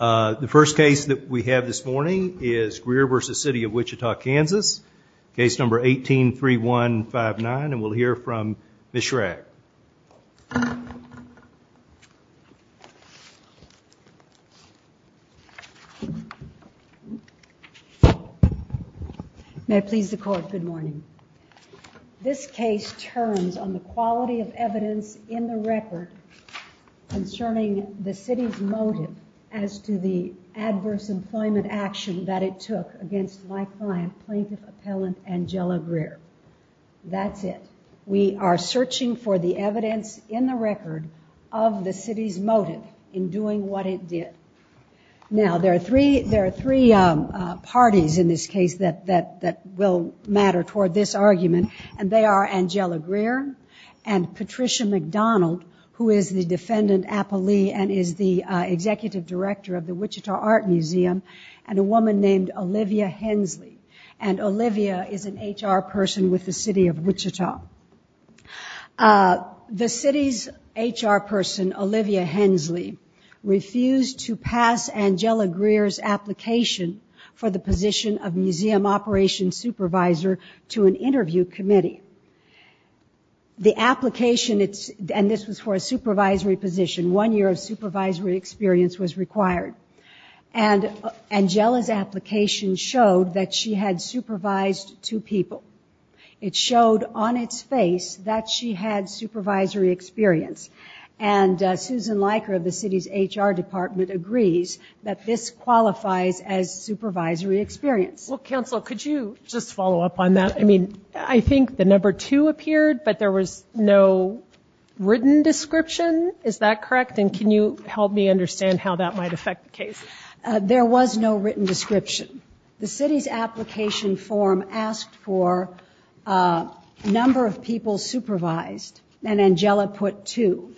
Uh, the first case that we have this morning is Greer v. City of Wichita, Kansas. Case number 18-3159 and we'll hear from Ms. Schrag. May it please the court, good morning. This case turns on the quality of evidence in the record concerning the city's motive as to the adverse employment action that it took against my client, plaintiff appellant Angela Greer. That's it. We are searching for the evidence in the record of the city's motive in doing what it did. Now there are three parties in this case that will matter toward this argument and they are Angela Greer and Patricia McDonald, who is the defendant appellee and is the executive director of the Wichita Art Museum, and a woman named Olivia Hensley. And Olivia is an HR person with the City of Wichita. The city's HR person, Olivia Hensley, refused to pass Angela Greer's application for the The application, and this was for a supervisory position, one year of supervisory experience was required. And Angela's application showed that she had supervised two people. It showed on its face that she had supervisory experience. And Susan Leiker of the city's HR department agrees that this qualifies as supervisory experience. Well, counsel, could you just follow up on that? I mean, I think the number two appeared, but there was no written description. Is that correct? And can you help me understand how that might affect the case? There was no written description. The city's application form asked for a number of people supervised, and Angela put two.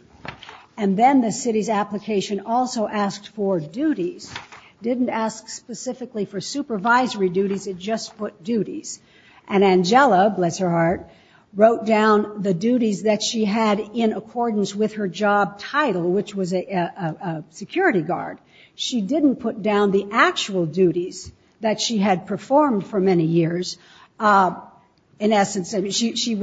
And then the city's application also asked for duties, didn't ask specifically for supervisory duties, it just put duties. And Angela, bless her heart, wrote down the duties that she had in accordance with her job title, which was a security guard. She didn't put down the actual duties that she had performed for many years. In essence, she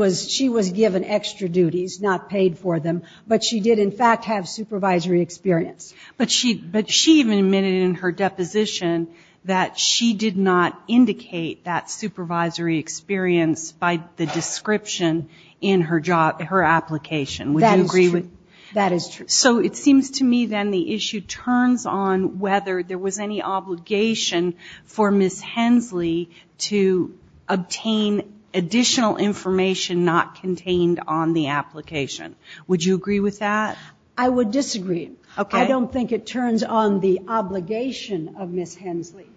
was given extra duties, not paid for them, but she did in fact have supervisory experience. But she even admitted in her deposition that she did not indicate that supervisory experience by the description in her job, her application, would you agree with that? That is true. So it seems to me then the issue turns on whether there was any obligation for Ms. Hensley to obtain additional information not contained on the application. Would you agree with that? I would disagree. I don't think it turns on the obligation of Ms. Hensley.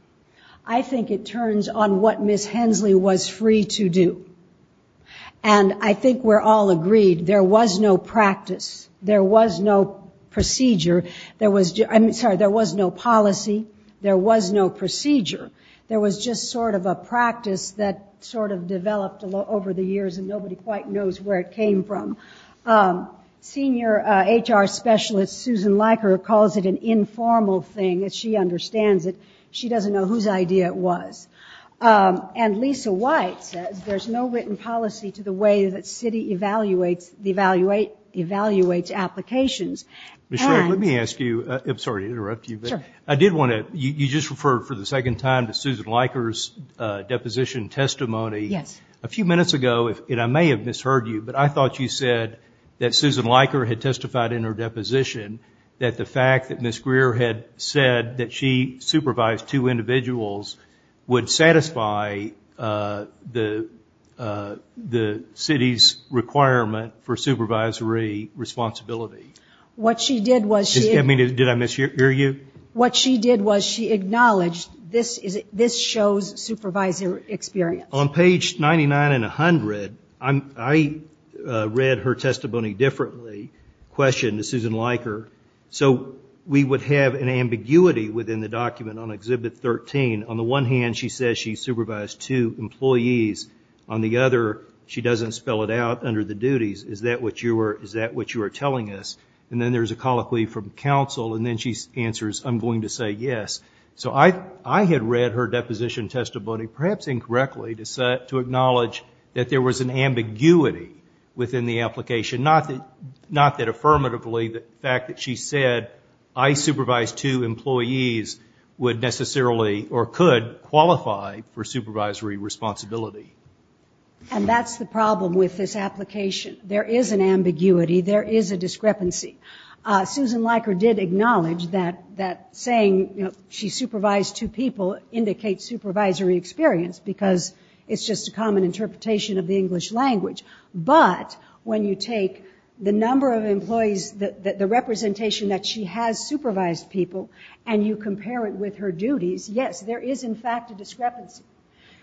I think it turns on what Ms. Hensley was free to do. And I think we're all agreed there was no practice, there was no procedure, there was no policy, there was no procedure. There was just sort of a practice that sort of developed over the years and nobody quite knows where it came from. Senior HR Specialist Susan Leiker calls it an informal thing, as she understands it. She doesn't know whose idea it was. And Lisa White says there's no written policy to the way that Citi evaluates applications. Michelle, let me ask you, I'm sorry to interrupt you, but I did want to, you just referred for the second time to Susan Leiker's deposition testimony a few minutes ago, and I may have said that Susan Leiker had testified in her deposition that the fact that Ms. Greer had said that she supervised two individuals would satisfy the Citi's requirement for supervisory responsibility. What she did was she... Did I mishear you? What she did was she acknowledged this shows supervisory experience. On page 99 and 100, I read her testimony differently, questioned to Susan Leiker. So we would have an ambiguity within the document on Exhibit 13. On the one hand, she says she supervised two employees. On the other, she doesn't spell it out under the duties. Is that what you are telling us? And then there's a colloquy from counsel, and then she answers, I'm going to say yes. So I had read her deposition testimony, perhaps incorrectly, to acknowledge that there was an ambiguity within the application. Not that affirmatively, the fact that she said I supervised two employees would necessarily or could qualify for supervisory responsibility. And that's the problem with this application. There is an ambiguity. There is a discrepancy. Susan Leiker did acknowledge that saying she supervised two people indicates supervisory experience because it's just a common interpretation of the English language. But when you take the number of employees, the representation that she has supervised people, and you compare it with her duties, yes, there is in fact a discrepancy.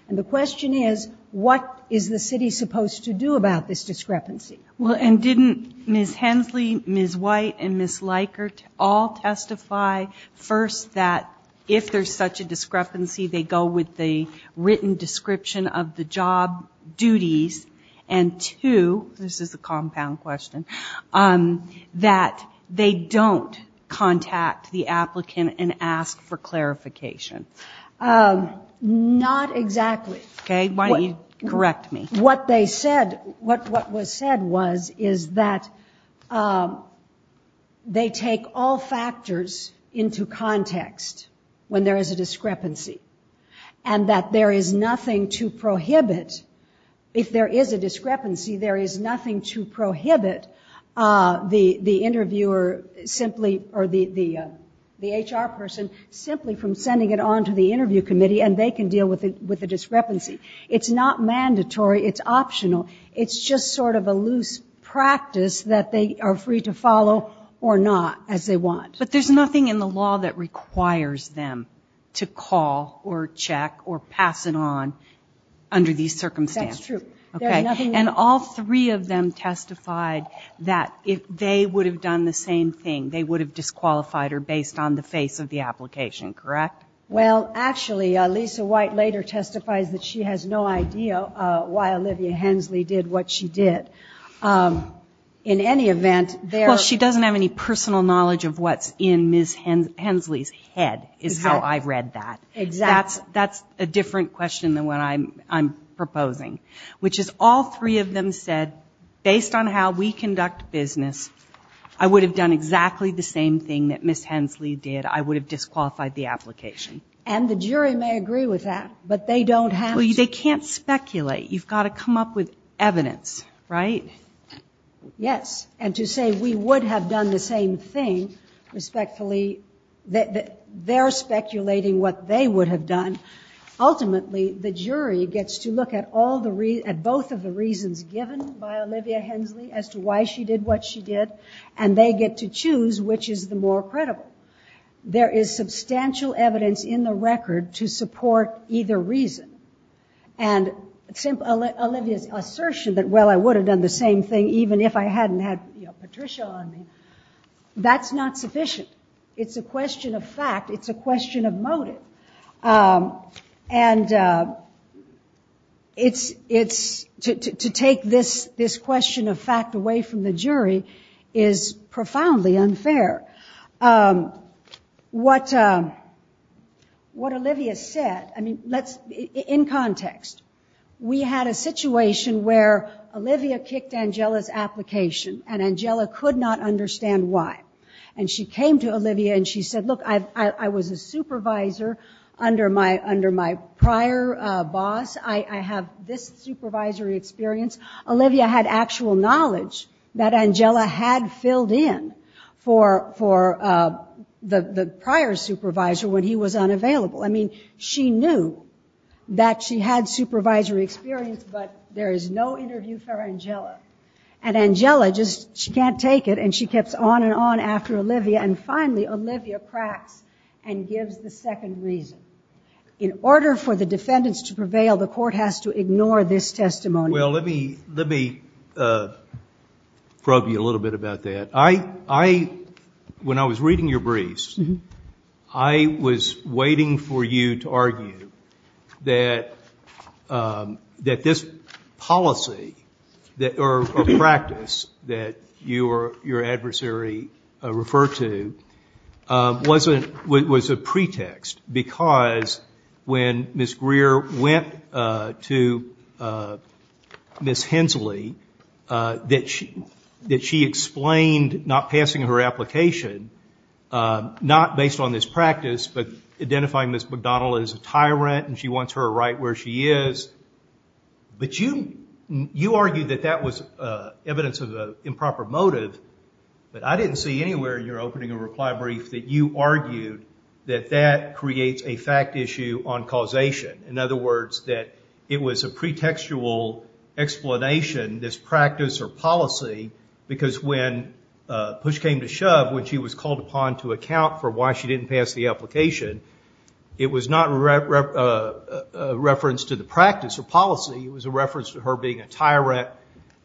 And the question is, what is the city supposed to do about this discrepancy? Well, and didn't Ms. Hensley, Ms. White, and Ms. Leiker all testify, first, that if there's such a discrepancy, they go with the written description of the job duties, and two, this is a compound question, that they don't contact the applicant and ask for clarification? Not exactly. Okay. Why don't you correct me? What they said, what was said was, is that they take all factors into context when there is a discrepancy, and that there is nothing to prohibit, if there is a discrepancy, there is nothing to prohibit the interviewer simply, or the HR person, simply from sending it on to the interview committee, and they can deal with the discrepancy. It's not mandatory, it's optional, it's just sort of a loose practice that they are free to follow, or not, as they want. But there's nothing in the law that requires them to call, or check, or pass it on under these circumstances. That's true. Okay. And all three of them testified that if they would have done the same thing, they would have disqualified her based on the face of the application, correct? Well, actually, Lisa White later testifies that she has no idea why Olivia Hensley did what she did. In any event, there... Well, she doesn't have any personal knowledge of what's in Ms. Hensley's head, is how I read that. Exactly. That's a different question than what I'm proposing, which is all three of them said, based on how we conduct business, I would have done exactly the same thing that Ms. Hensley did. I would have disqualified the application. And the jury may agree with that, but they don't have to... Well, they can't speculate. You've got to come up with evidence, right? Yes. And to say we would have done the same thing, respectfully, they're speculating what they would have done. Ultimately, the jury gets to look at both of the reasons given by Olivia Hensley as to why she did what she did, and they get to choose which is the more credible. There is substantial evidence in the record to support either reason. And Olivia's assertion that, well, I would have done the same thing even if I hadn't had Patricia on me, that's not sufficient. It's a question of fact. It's a question of motive. And to take this question of fact away from the jury is profoundly unfair. What Olivia said, I mean, in context, we had a situation where Olivia kicked Angela's application, and Angela could not understand why. And she came to Olivia and she said, look, I was a supervisor under my prior boss. I have this supervisory experience. Olivia had actual knowledge that Angela had filled in for the prior supervisor when he was unavailable. I mean, she knew that she had supervisory experience, but there is no interview for Angela. And Angela just, she can't take it, and she kept on and on after Olivia. And finally, Olivia cracks and gives the second reason. In order for the defendants to prevail, the court has to ignore this testimony. Well, let me probe you a little bit about that. I, when I was reading your briefs, I was waiting for you to argue that this policy or practice that your adversary referred to was a pretext. Because when Ms. Greer went to Ms. Hensley, that she explained not passing her application, not based on this practice, but identifying Ms. McDonnell as a tyrant and she wants her right where she is, but you argued that that was evidence of an improper motive, but I didn't see anywhere in your opening and reply brief that you argued that that creates a fact issue on causation. In other words, that it was a pretextual explanation, this practice or policy, because when push came to shove, when she was called upon to account for why she didn't pass the application, it was not a reference to the practice or policy, it was a reference to her being a tyrant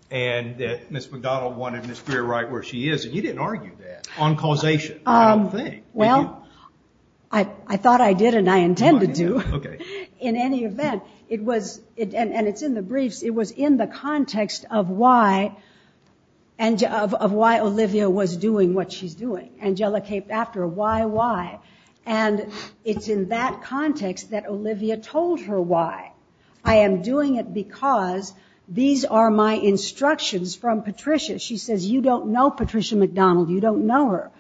and that Ms. McDonnell wanted Ms. Greer right where she is. And you didn't argue that on causation, I don't think. Well, I thought I did and I intended to. In any event, and it's in the briefs, it was in the context of why Olivia was doing what she's doing, Angelica came after her, why, why? And it's in that context that Olivia told her why. I am doing it because these are my instructions from Patricia. She says, you don't know Patricia McDonnell, you don't know her.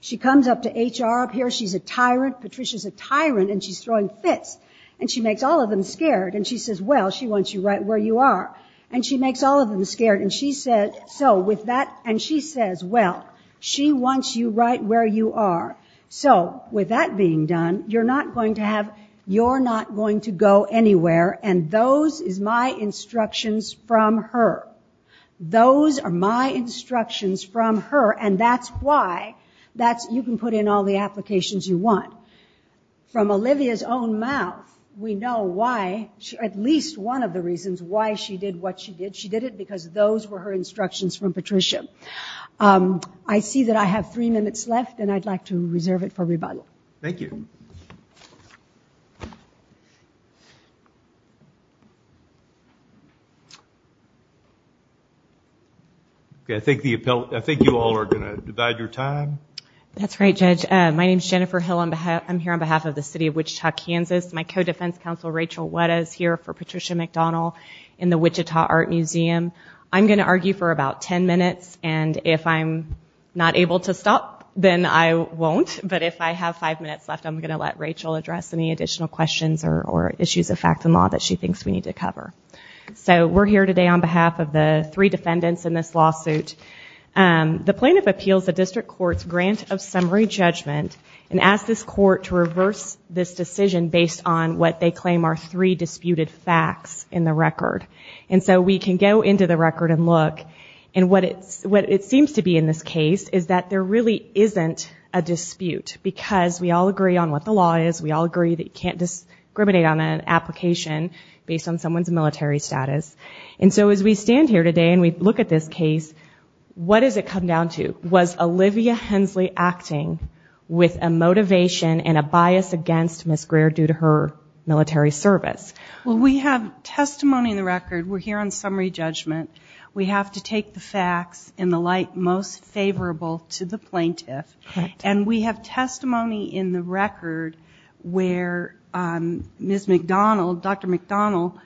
She comes up to HR up here, she's a tyrant, Patricia's a tyrant and she's throwing fits and she makes all of them scared and she says, well, she wants you right where you are and she makes all of them scared and she said, so with that, and she says, well, she wants you right where you are. So with that being done, you're not going to have, you're not going to go anywhere. And those is my instructions from her. Those are my instructions from her. And that's why that's, you can put in all the applications you want from Olivia's own mouth, we know why she, at least one of the reasons why she did what she did. She did it because those were her instructions from Patricia. I see that I have three minutes left and I'd like to reserve it for rebuttal. Thank you. I think the appellate, I think you all are going to divide your time. That's right, Judge. My name is Jennifer Hill. I'm here on behalf of the city of Wichita, Kansas. My co-defense counsel, Rachel Weta is here for Patricia McDonnell in the Wichita Art Museum. I'm going to argue for about 10 minutes and if I'm not able to stop, then I won't. But if I have five minutes left, I'm going to let Rachel address any additional questions or issues of fact and law that she thinks we need to cover. So we're here today on behalf of the three defendants in this lawsuit. The plaintiff appeals the district court's grant of summary judgment and asked this court to reverse this decision based on what they claim are three disputed facts in the record. And so we can go into the record and look, and what it seems to be in this case is that there really isn't a dispute because we all agree on what the law is. We all agree that you can't discriminate on an application based on someone's military status. And so as we stand here today and we look at this case, what does it come down to? Was Olivia Hensley acting with a motivation and a bias against Ms. Greer due to her military service? Well, we have testimony in the record. We're here on summary judgment. We have to take the facts in the light most favorable to the plaintiff. And we have testimony in the record where Ms. McDonnell, Dr. McDonnell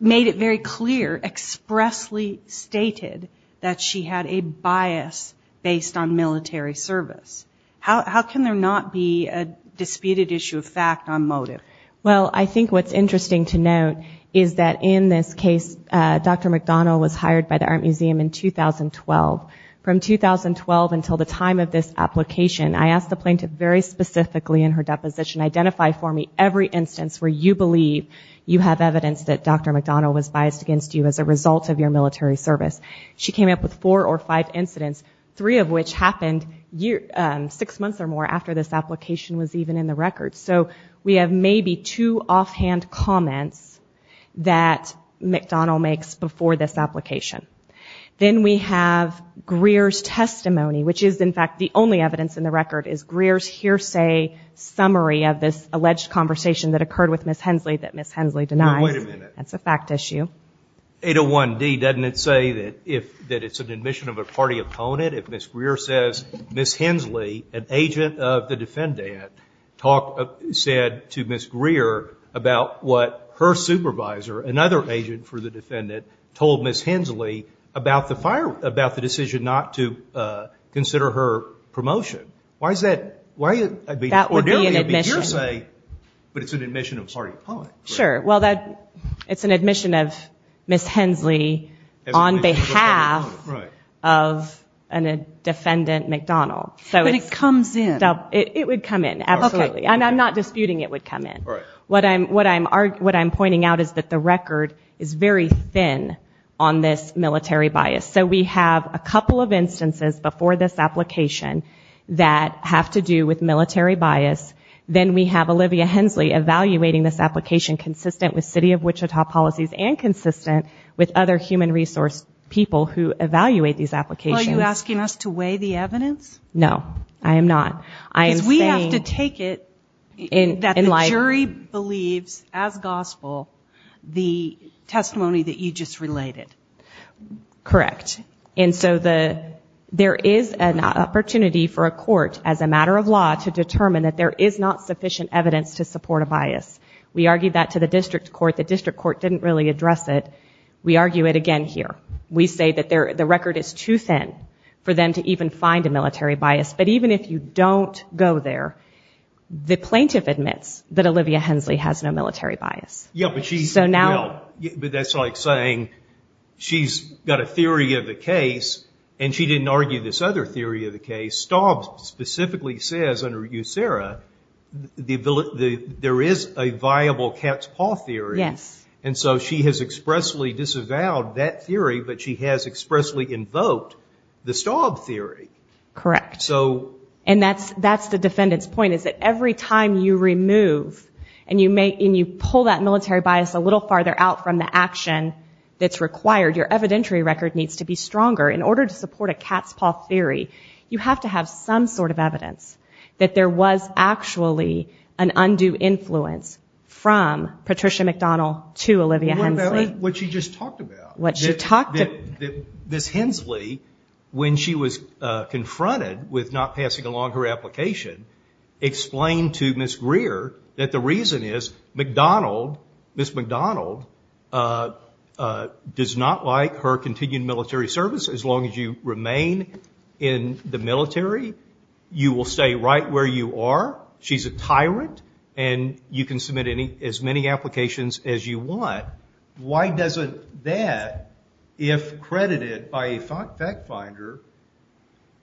made it very clear, expressly stated that she had a bias based on military service. How can there not be a disputed issue of fact on motive? Well, I think what's interesting to note is that in this case, Dr. McDonnell was hired by the Art Museum in 2012. From 2012 until the time of this application, I asked the plaintiff very specifically in her deposition, identify for me every instance where you believe you have evidence that Dr. McDonnell was biased against you as a result of your military service. She came up with four or five incidents, three of which happened six months or more after this application was even in the record. So we have maybe two offhand comments that McDonnell makes before this application. Then we have Greer's testimony, which is in fact the only evidence in the record is Greer's hearsay summary of this alleged conversation that occurred with Ms. Hensley that Ms. Hensley denies. Wait a minute. That's a fact issue. 801D, doesn't it say that if that it's an admission of a party opponent, if Ms. Greer says Ms. Hensley, an agent of the defendant, said to Ms. Greer about what her supervisor, another agent for the defendant, told Ms. Hensley about the decision not to consider her promotion, why is that? That would be an admission. But it's an admission of a party opponent. Sure. Well, it's an admission of Ms. Hensley on behalf of a defendant, McDonnell. But it comes in. It would come in, absolutely. And I'm not disputing it would come in. What I'm pointing out is that the record is very thin on this military bias. So we have a couple of instances before this application that have to do with military bias. Then we have Olivia Hensley evaluating this application consistent with city of Wichita policies and consistent with other human resource people who evaluate these applications. Are you asking us to weigh the evidence? No, I am not. Because we have to take it that the jury believes, as gospel, the testimony that you just related. Correct. And so there is an opportunity for a court, as a matter of law, to determine that there is not sufficient evidence to support a bias. We argued that to the district court. The district court didn't really address it. We argue it again here. We say that the record is too thin for them to even find a military bias. But even if you don't go there, the plaintiff admits that Olivia Hensley has no military bias. Yeah, but that's like saying she's got a theory of the case, and she didn't argue this other theory of the case. Staub specifically says under USERRA, there is a viable cat's paw theory. Yes. And so she has expressly disavowed that theory, but she has expressly invoked the Staub theory. Correct. And that's the defendant's point, is that every time you remove and you pull that military bias a little farther out from the action that's required, your evidentiary record needs to be stronger. In order to support a cat's paw theory, you have to have some sort of evidence that there was actually an undue influence from Patricia McDonald to Olivia Hensley. What she just talked about. What she talked about. Ms. Hensley, when she was confronted with not passing along her application, explained to Ms. Greer that the reason is Ms. McDonald does not like her continued military service. As long as you remain in the military, you will stay right where you are. She's a tyrant, and you can submit as many applications as you want. Why doesn't that, if credited by a fact finder,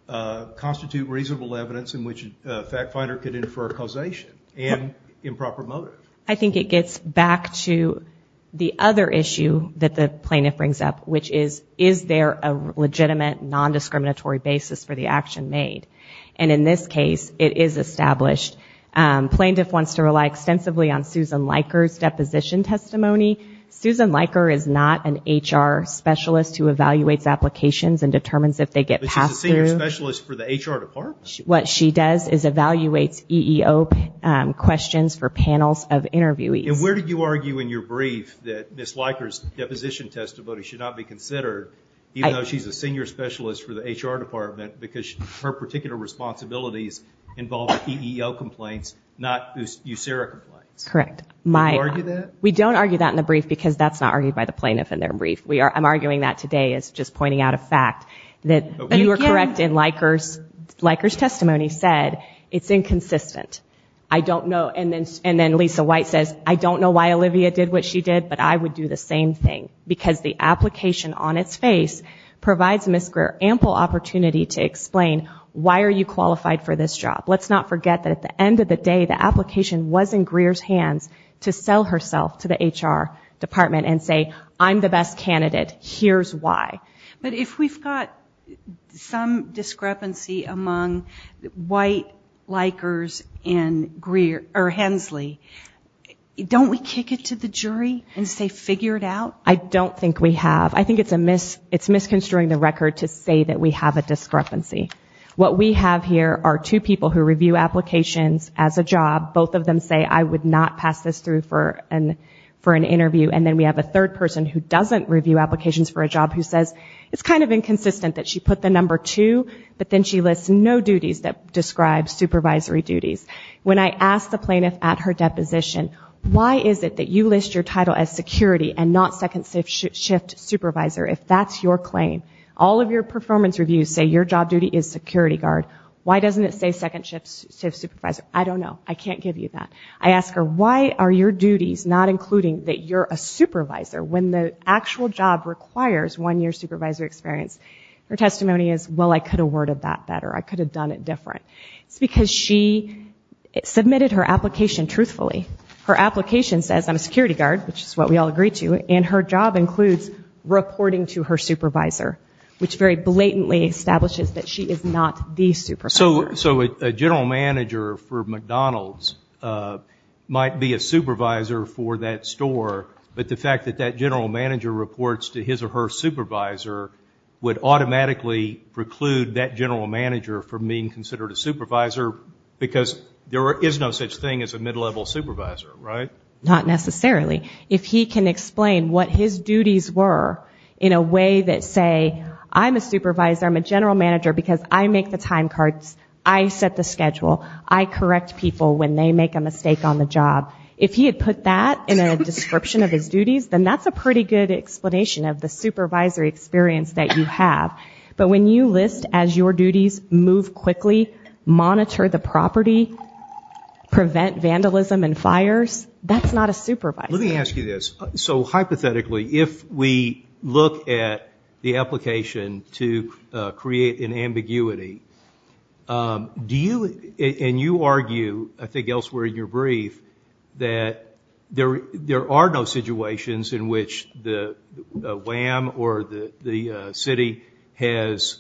constitute reasonable evidence in which a fact finder could infer a causation and improper motive? I think it gets back to the other issue that the plaintiff brings up, which is, is there a legitimate, non-discriminatory basis for the action made? And in this case, it is established. Plaintiff wants to rely extensively on Susan Leiker's deposition testimony. Susan Leiker is not an HR specialist who evaluates applications and determines if they get passed through. But she's a senior specialist for the HR department? What she does is evaluates EEO questions for panels of interviewees. And where did you argue in your brief that Ms. Leiker's deposition testimony should not be considered, even though she's a senior specialist for the HR department, because her particular responsibilities involve EEO complaints, not USERRA complaints? Correct. Do you argue that? We don't argue that in the brief because that's not argued by the plaintiff in their brief. I'm arguing that today as just pointing out a fact that you were correct in Leiker's testimony said, it's inconsistent. I don't know. And then Lisa White says, I don't know why Olivia did what she did, but I would do the same thing. Because the application on its face provides Ms. Greer ample opportunity to explain, why are you qualified for this job? Let's not forget that at the end of the day, the application was in Greer's hands to sell herself to the HR department and say, I'm the best candidate, here's why. But if we've got some discrepancy among White, Leikers, and Greer, or Hensley, don't we kick it to the jury and say, figure it out? I don't think we have. I think it's misconstruing the record to say that we have a discrepancy. What we have here are two people who review applications as a job. Both of them say, I would not pass this through for an interview. And then we have a third person who doesn't review applications for a job who says, it's kind of inconsistent that she put the number two, but then she lists no duties that describe supervisory duties. When I asked the plaintiff at her deposition, why is it that you list your title as security and not second shift supervisor, if that's your claim? All of your performance reviews say your job duty is security guard. Why doesn't it say second shift supervisor? I don't know. I can't give you that. I ask her, why are your duties not including that you're a supervisor when the actual job requires one year supervisor experience? Her testimony is, well, I could have worded that better. I could have done it different. It's because she submitted her application truthfully. Her application says, I'm a security guard, which is what we all agree to. And her job includes reporting to her supervisor, which very blatantly establishes that she is not the supervisor. So a general manager for McDonald's might be a supervisor for that store. But the fact that that general manager reports to his or her supervisor would automatically preclude that general manager from being considered a supervisor because there is no such thing as a mid-level supervisor, right? Not necessarily. If he can explain what his duties were in a way that say, I'm a supervisor, I'm a general manager because I make the time cards. I set the schedule. I correct people when they make a mistake on the job. If he had put that in a description of his duties, then that's a pretty good explanation of the supervisory experience that you have. But when you list as your duties, move quickly, monitor the property, prevent vandalism and fires, that's not a supervisor. Let me ask you this. So hypothetically, if we look at the application to create an ambiguity, and you argue, I think elsewhere in your brief, that there are no situations in which the WAM or the city has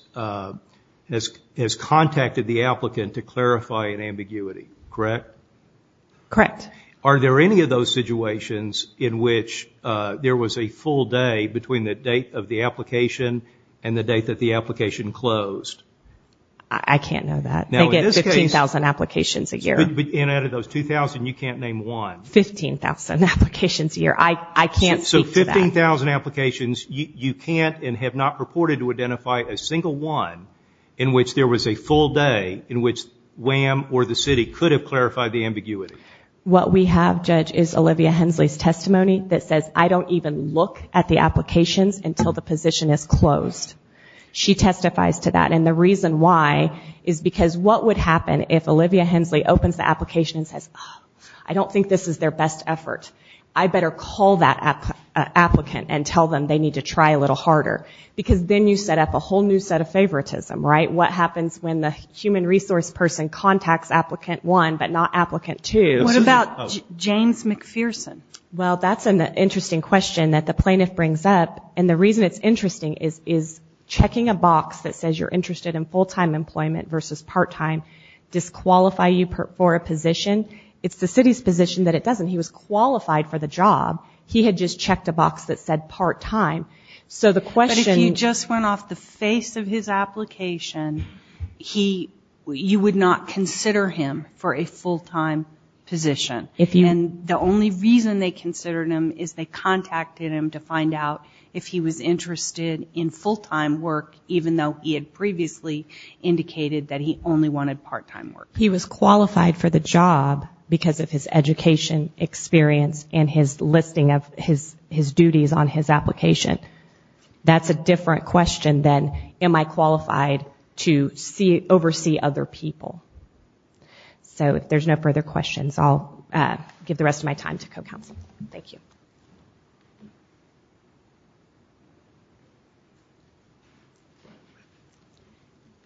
contacted the applicant to clarify an ambiguity, correct? Correct. Are there any of those situations in which there was a full day between the date of the application and the date that the application closed? I can't know that. They get 15,000 applications a year. And out of those 2,000, you can't name one. 15,000 applications a year. I can't speak to that. So 15,000 applications, you can't and have not reported to identify a single one in which there was a full day in which WAM or the city could have clarified the ambiguity. What we have, Judge, is Olivia Hensley's testimony that says, I don't even look at the applications until the position is closed. She testifies to that. And the reason why is because what would happen if Olivia Hensley opens the application and says, I don't think this is their best effort. I better call that applicant and tell them they need to try a little harder. Because then you set up a whole new set of favoritism, right? What happens when the human resource person contacts applicant one but not applicant two? What about James McPherson? Well, that's an interesting question that the plaintiff brings up. And the reason it's interesting is checking a box that says you're interested in full-time employment versus part-time disqualify you for a position. It's the city's position that it doesn't. He was qualified for the job. He had just checked a box that said part-time. But if you just went off the face of his application, you would not consider him for a full-time position. The only reason they considered him is they contacted him to find out if he was interested in full-time work, even though he had previously indicated that he only wanted part-time work. He was qualified for the job because of his education, experience, and his listing of his duties on his application. That's a different question than, am I qualified to oversee other people? So if there's no further questions, I'll give the rest of my time to co-counsel. Thank you.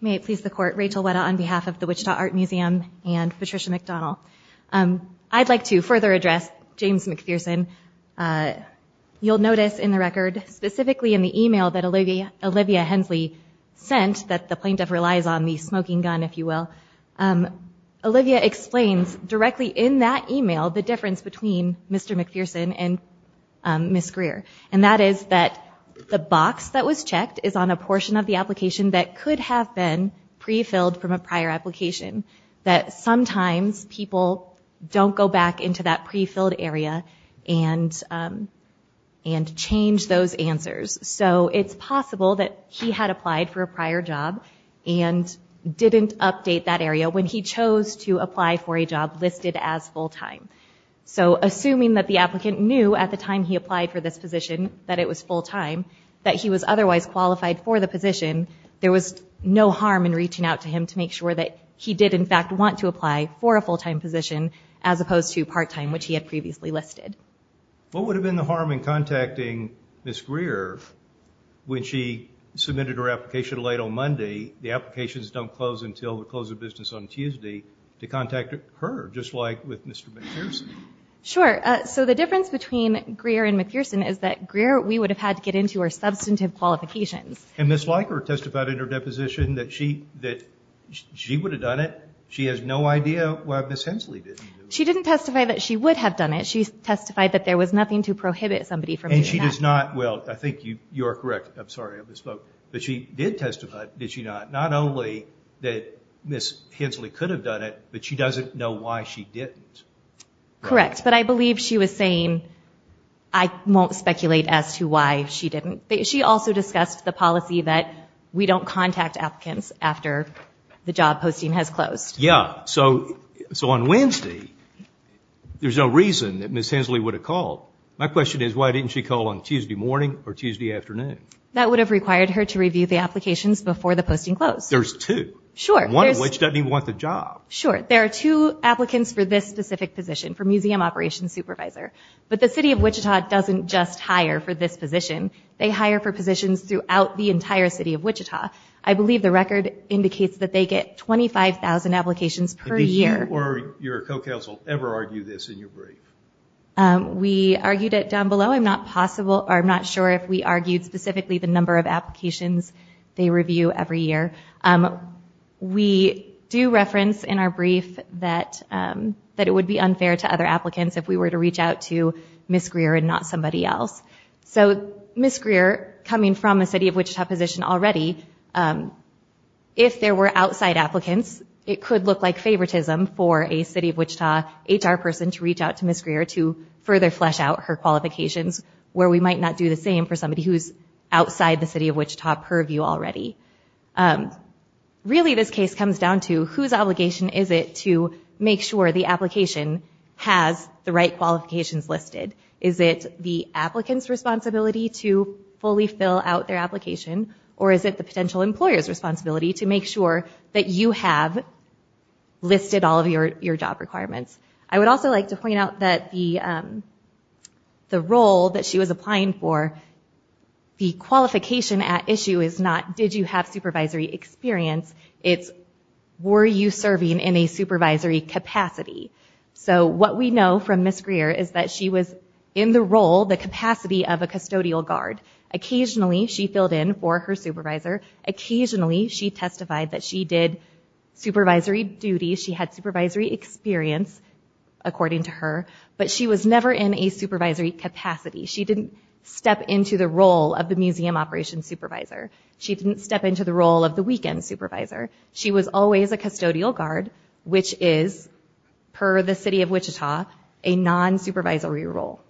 Rachel Weta May it please the court. Rachel Weta on behalf of the Wichita Art Museum and Patricia McDonald. I'd like to further address James McPherson. You'll notice in the record, specifically in the email that Olivia Hensley sent that the plaintiff relies on the smoking gun, if you will. Olivia explains directly in that email the difference between Mr. McPherson and Ms. Greer. And that is that the box that was checked is on a portion of the application that could have been don't go back into that pre-filled area and change those answers. So it's possible that he had applied for a prior job and didn't update that area when he chose to apply for a job listed as full-time. So assuming that the applicant knew at the time he applied for this position that it was full-time, that he was otherwise qualified for the position, there was no harm in reaching out to him to make sure that he did in fact want to apply for a full-time position, as opposed to part-time, which he had previously listed. What would have been the harm in contacting Ms. Greer when she submitted her application late on Monday, the applications don't close until the close of business on Tuesday, to contact her just like with Mr. McPherson? Sure. So the difference between Greer and McPherson is that Greer, we would have had to get into our substantive qualifications. And Ms. Leiker testified in her deposition that she would have done it. She has no idea why Ms. Hensley didn't do it. She didn't testify that she would have done it. She testified that there was nothing to prohibit somebody from doing that. And she does not, well, I think you are correct. I'm sorry, I misspoke. But she did testify, did she not? Not only that Ms. Hensley could have done it, but she doesn't know why she didn't. Correct. But I believe she was saying, I won't speculate as to why she didn't. She also discussed the policy that we don't contact applicants after the job posting has closed. Yeah. So on Wednesday, there's no reason that Ms. Hensley would have called. My question is, why didn't she call on Tuesday morning or Tuesday afternoon? That would have required her to review the applications before the posting closed. There's two. Sure. One of which doesn't even want the job. Sure. There are two applicants for this specific position, for Museum Operations Supervisor. But the City of Wichita doesn't just hire for this position. They hire for positions throughout the entire City of Wichita. I believe the record indicates that they get 25,000 applications per year. Did you or your co-counsel ever argue this in your brief? We argued it down below. I'm not possible, or I'm not sure if we argued specifically the number of applications they review every year. We do reference in our brief that it would be unfair to other applicants if we were to reach out to Ms. Greer and not somebody else. So Ms. Greer, coming from a City of Wichita position already, if there were outside applicants, it could look like favoritism for a City of Wichita HR person to reach out to Ms. Greer to further flesh out her qualifications, where we might not do the same for somebody who's outside the City of Wichita purview already. Really, this case comes down to whose obligation is it to make sure the application has the right qualifications listed? Is it the applicant's responsibility to fully fill out their application? Or is it the potential employer's responsibility to make sure that you have listed all of your job requirements? I would also like to point out that the role that she was applying for, the qualification at issue is not, did you have supervisory experience? It's, were you serving in a supervisory capacity? So what we know from Ms. Greer is that she was in the role, the capacity of a custodial guard. Occasionally, she filled in for her supervisor. Occasionally, she testified that she did supervisory duty. She had supervisory experience, according to her. But she was never in a supervisory capacity. She didn't step into the role of the museum operations supervisor. She didn't step into the role of the weekend supervisor. She was always a custodial guard, which is, per the city of Wichita, a non-supervisory role.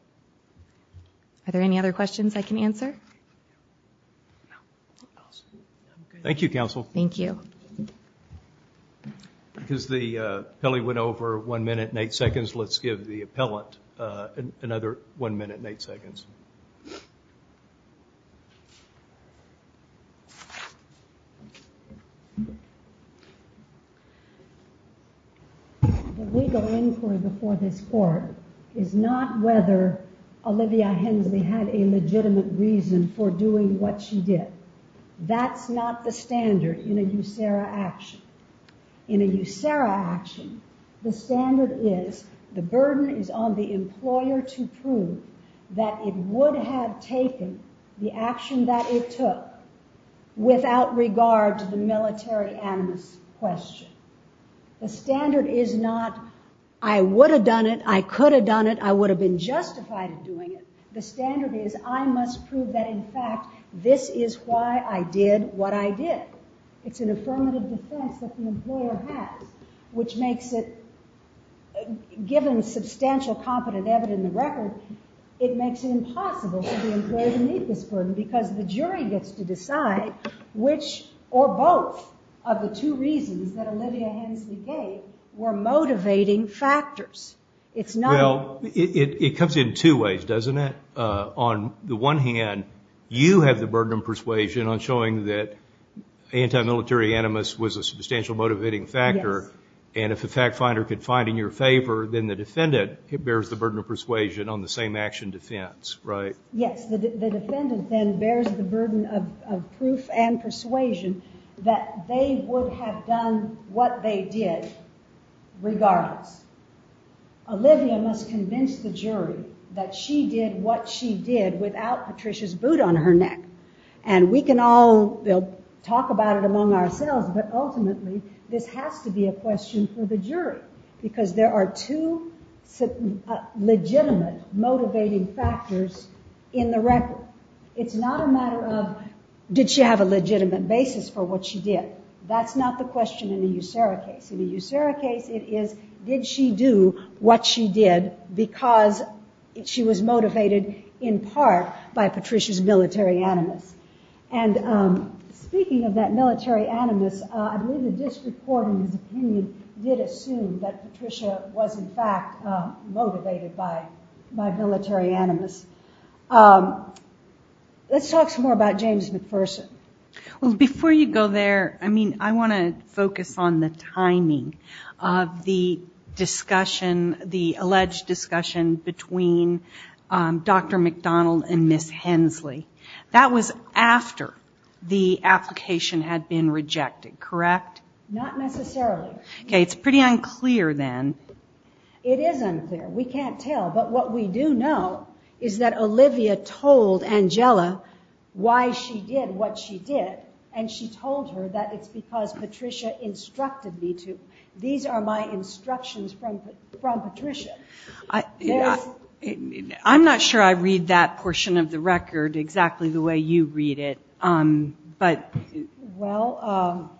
Are there any other questions I can answer? Thank you, counsel. Thank you. Because the appellee went over one minute and eight seconds, let's give the appellant another one minute and eight seconds. The legal inquiry before this court is not whether Olivia Hensley had a legitimate reason for doing what she did. That's not the standard in a USERRA action. In a USERRA action, the standard is the burden is on the employer to prove that it would have taken the action that it took without regard to the military animus question. The standard is not, I would have done it. I could have done it. I would have been justified in doing it. The standard is, I must prove that, in fact, this is why I did what I did. It's an affirmative defense that the employer has, which makes it, given substantial competent evidence in the record, it makes it impossible for the employer to meet this burden because the jury gets to decide which or both of the two reasons that Olivia Hensley gave were motivating factors. Well, it comes in two ways, doesn't it? On the one hand, you have the burden of persuasion on showing that anti-military animus was a substantial motivating factor. And if the fact finder could find in your favor, then the defendant bears the burden of persuasion on the same action defense, right? Yes, the defendant then bears the burden of proof and persuasion that they would have done what they did regardless. Olivia must convince the jury that she did what she did without Patricia's boot on her neck. And we can all talk about it among ourselves, but ultimately, this has to be a question for the jury because there are two legitimate motivating factors in the record. It's not a matter of, did she have a legitimate basis for what she did? That's not the question in the USERRA case. In the USERRA case, it is, did she do what she did because she was motivated in part by Patricia's military animus? And speaking of that military animus, I believe the district court, in his opinion, did assume that Patricia was, in fact, motivated by military animus. Let's talk some more about James McPherson. Well, before you go there, I mean, I want to focus on the timing of the discussion, the alleged discussion between Dr. McDonald and Ms. Hensley. That was after the application had been rejected, correct? Not necessarily. Okay, it's pretty unclear then. It is unclear. We can't tell, but what we do know is that Olivia told Angela why she did what she did, and she told her that it's because Patricia instructed me to. These are my instructions from Patricia. Well, I'm not sure I read that portion of the record exactly the way you read it, but... Well,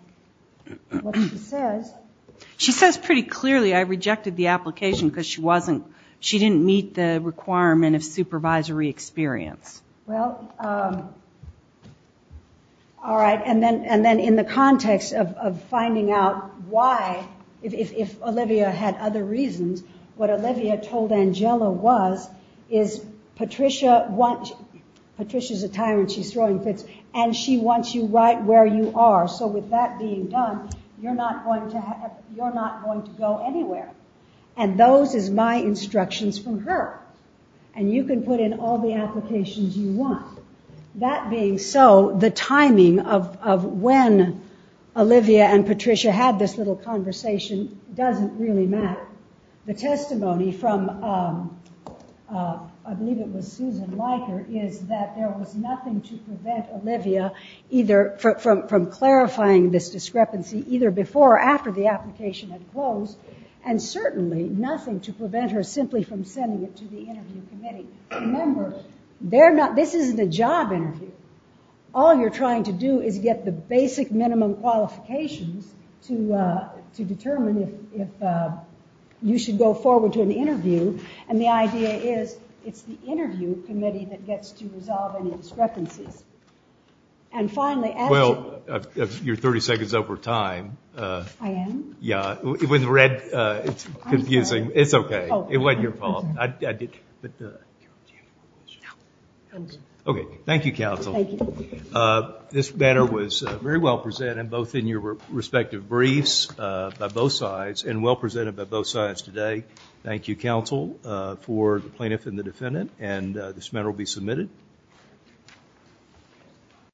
what she says... She says pretty clearly, I rejected the application because she wasn't, she didn't meet the requirement of supervisory experience. Well, all right, and then in the context of finding out why, if Olivia had other reasons, what Olivia told Angela was, is Patricia wants, Patricia's a tyrant, she's throwing fits, and she wants you right where you are. So with that being done, you're not going to go anywhere. And those are my instructions from her. And you can put in all the applications you want. That being so, the timing of when Olivia and Patricia had this little conversation doesn't really matter. The testimony from, I believe it was Susan Leiker, is that there was nothing to prevent Olivia either from clarifying this discrepancy either before or after the application had closed, and certainly nothing to prevent her simply from sending it to the interview committee. Remember, this isn't a job interview. All you're trying to do is get the basic minimum qualifications to determine if you should go forward to an interview. And the idea is, it's the interview committee that gets to resolve any discrepancies. And finally... Well, you're 30 seconds over time. I am? Yeah, with red, it's confusing. It's okay, it wasn't your fault. But... Okay, thank you, counsel. This matter was very well presented both in your respective briefs by both sides and well presented by both sides today. Thank you, counsel, for the plaintiff and the defendant. And this matter will be submitted.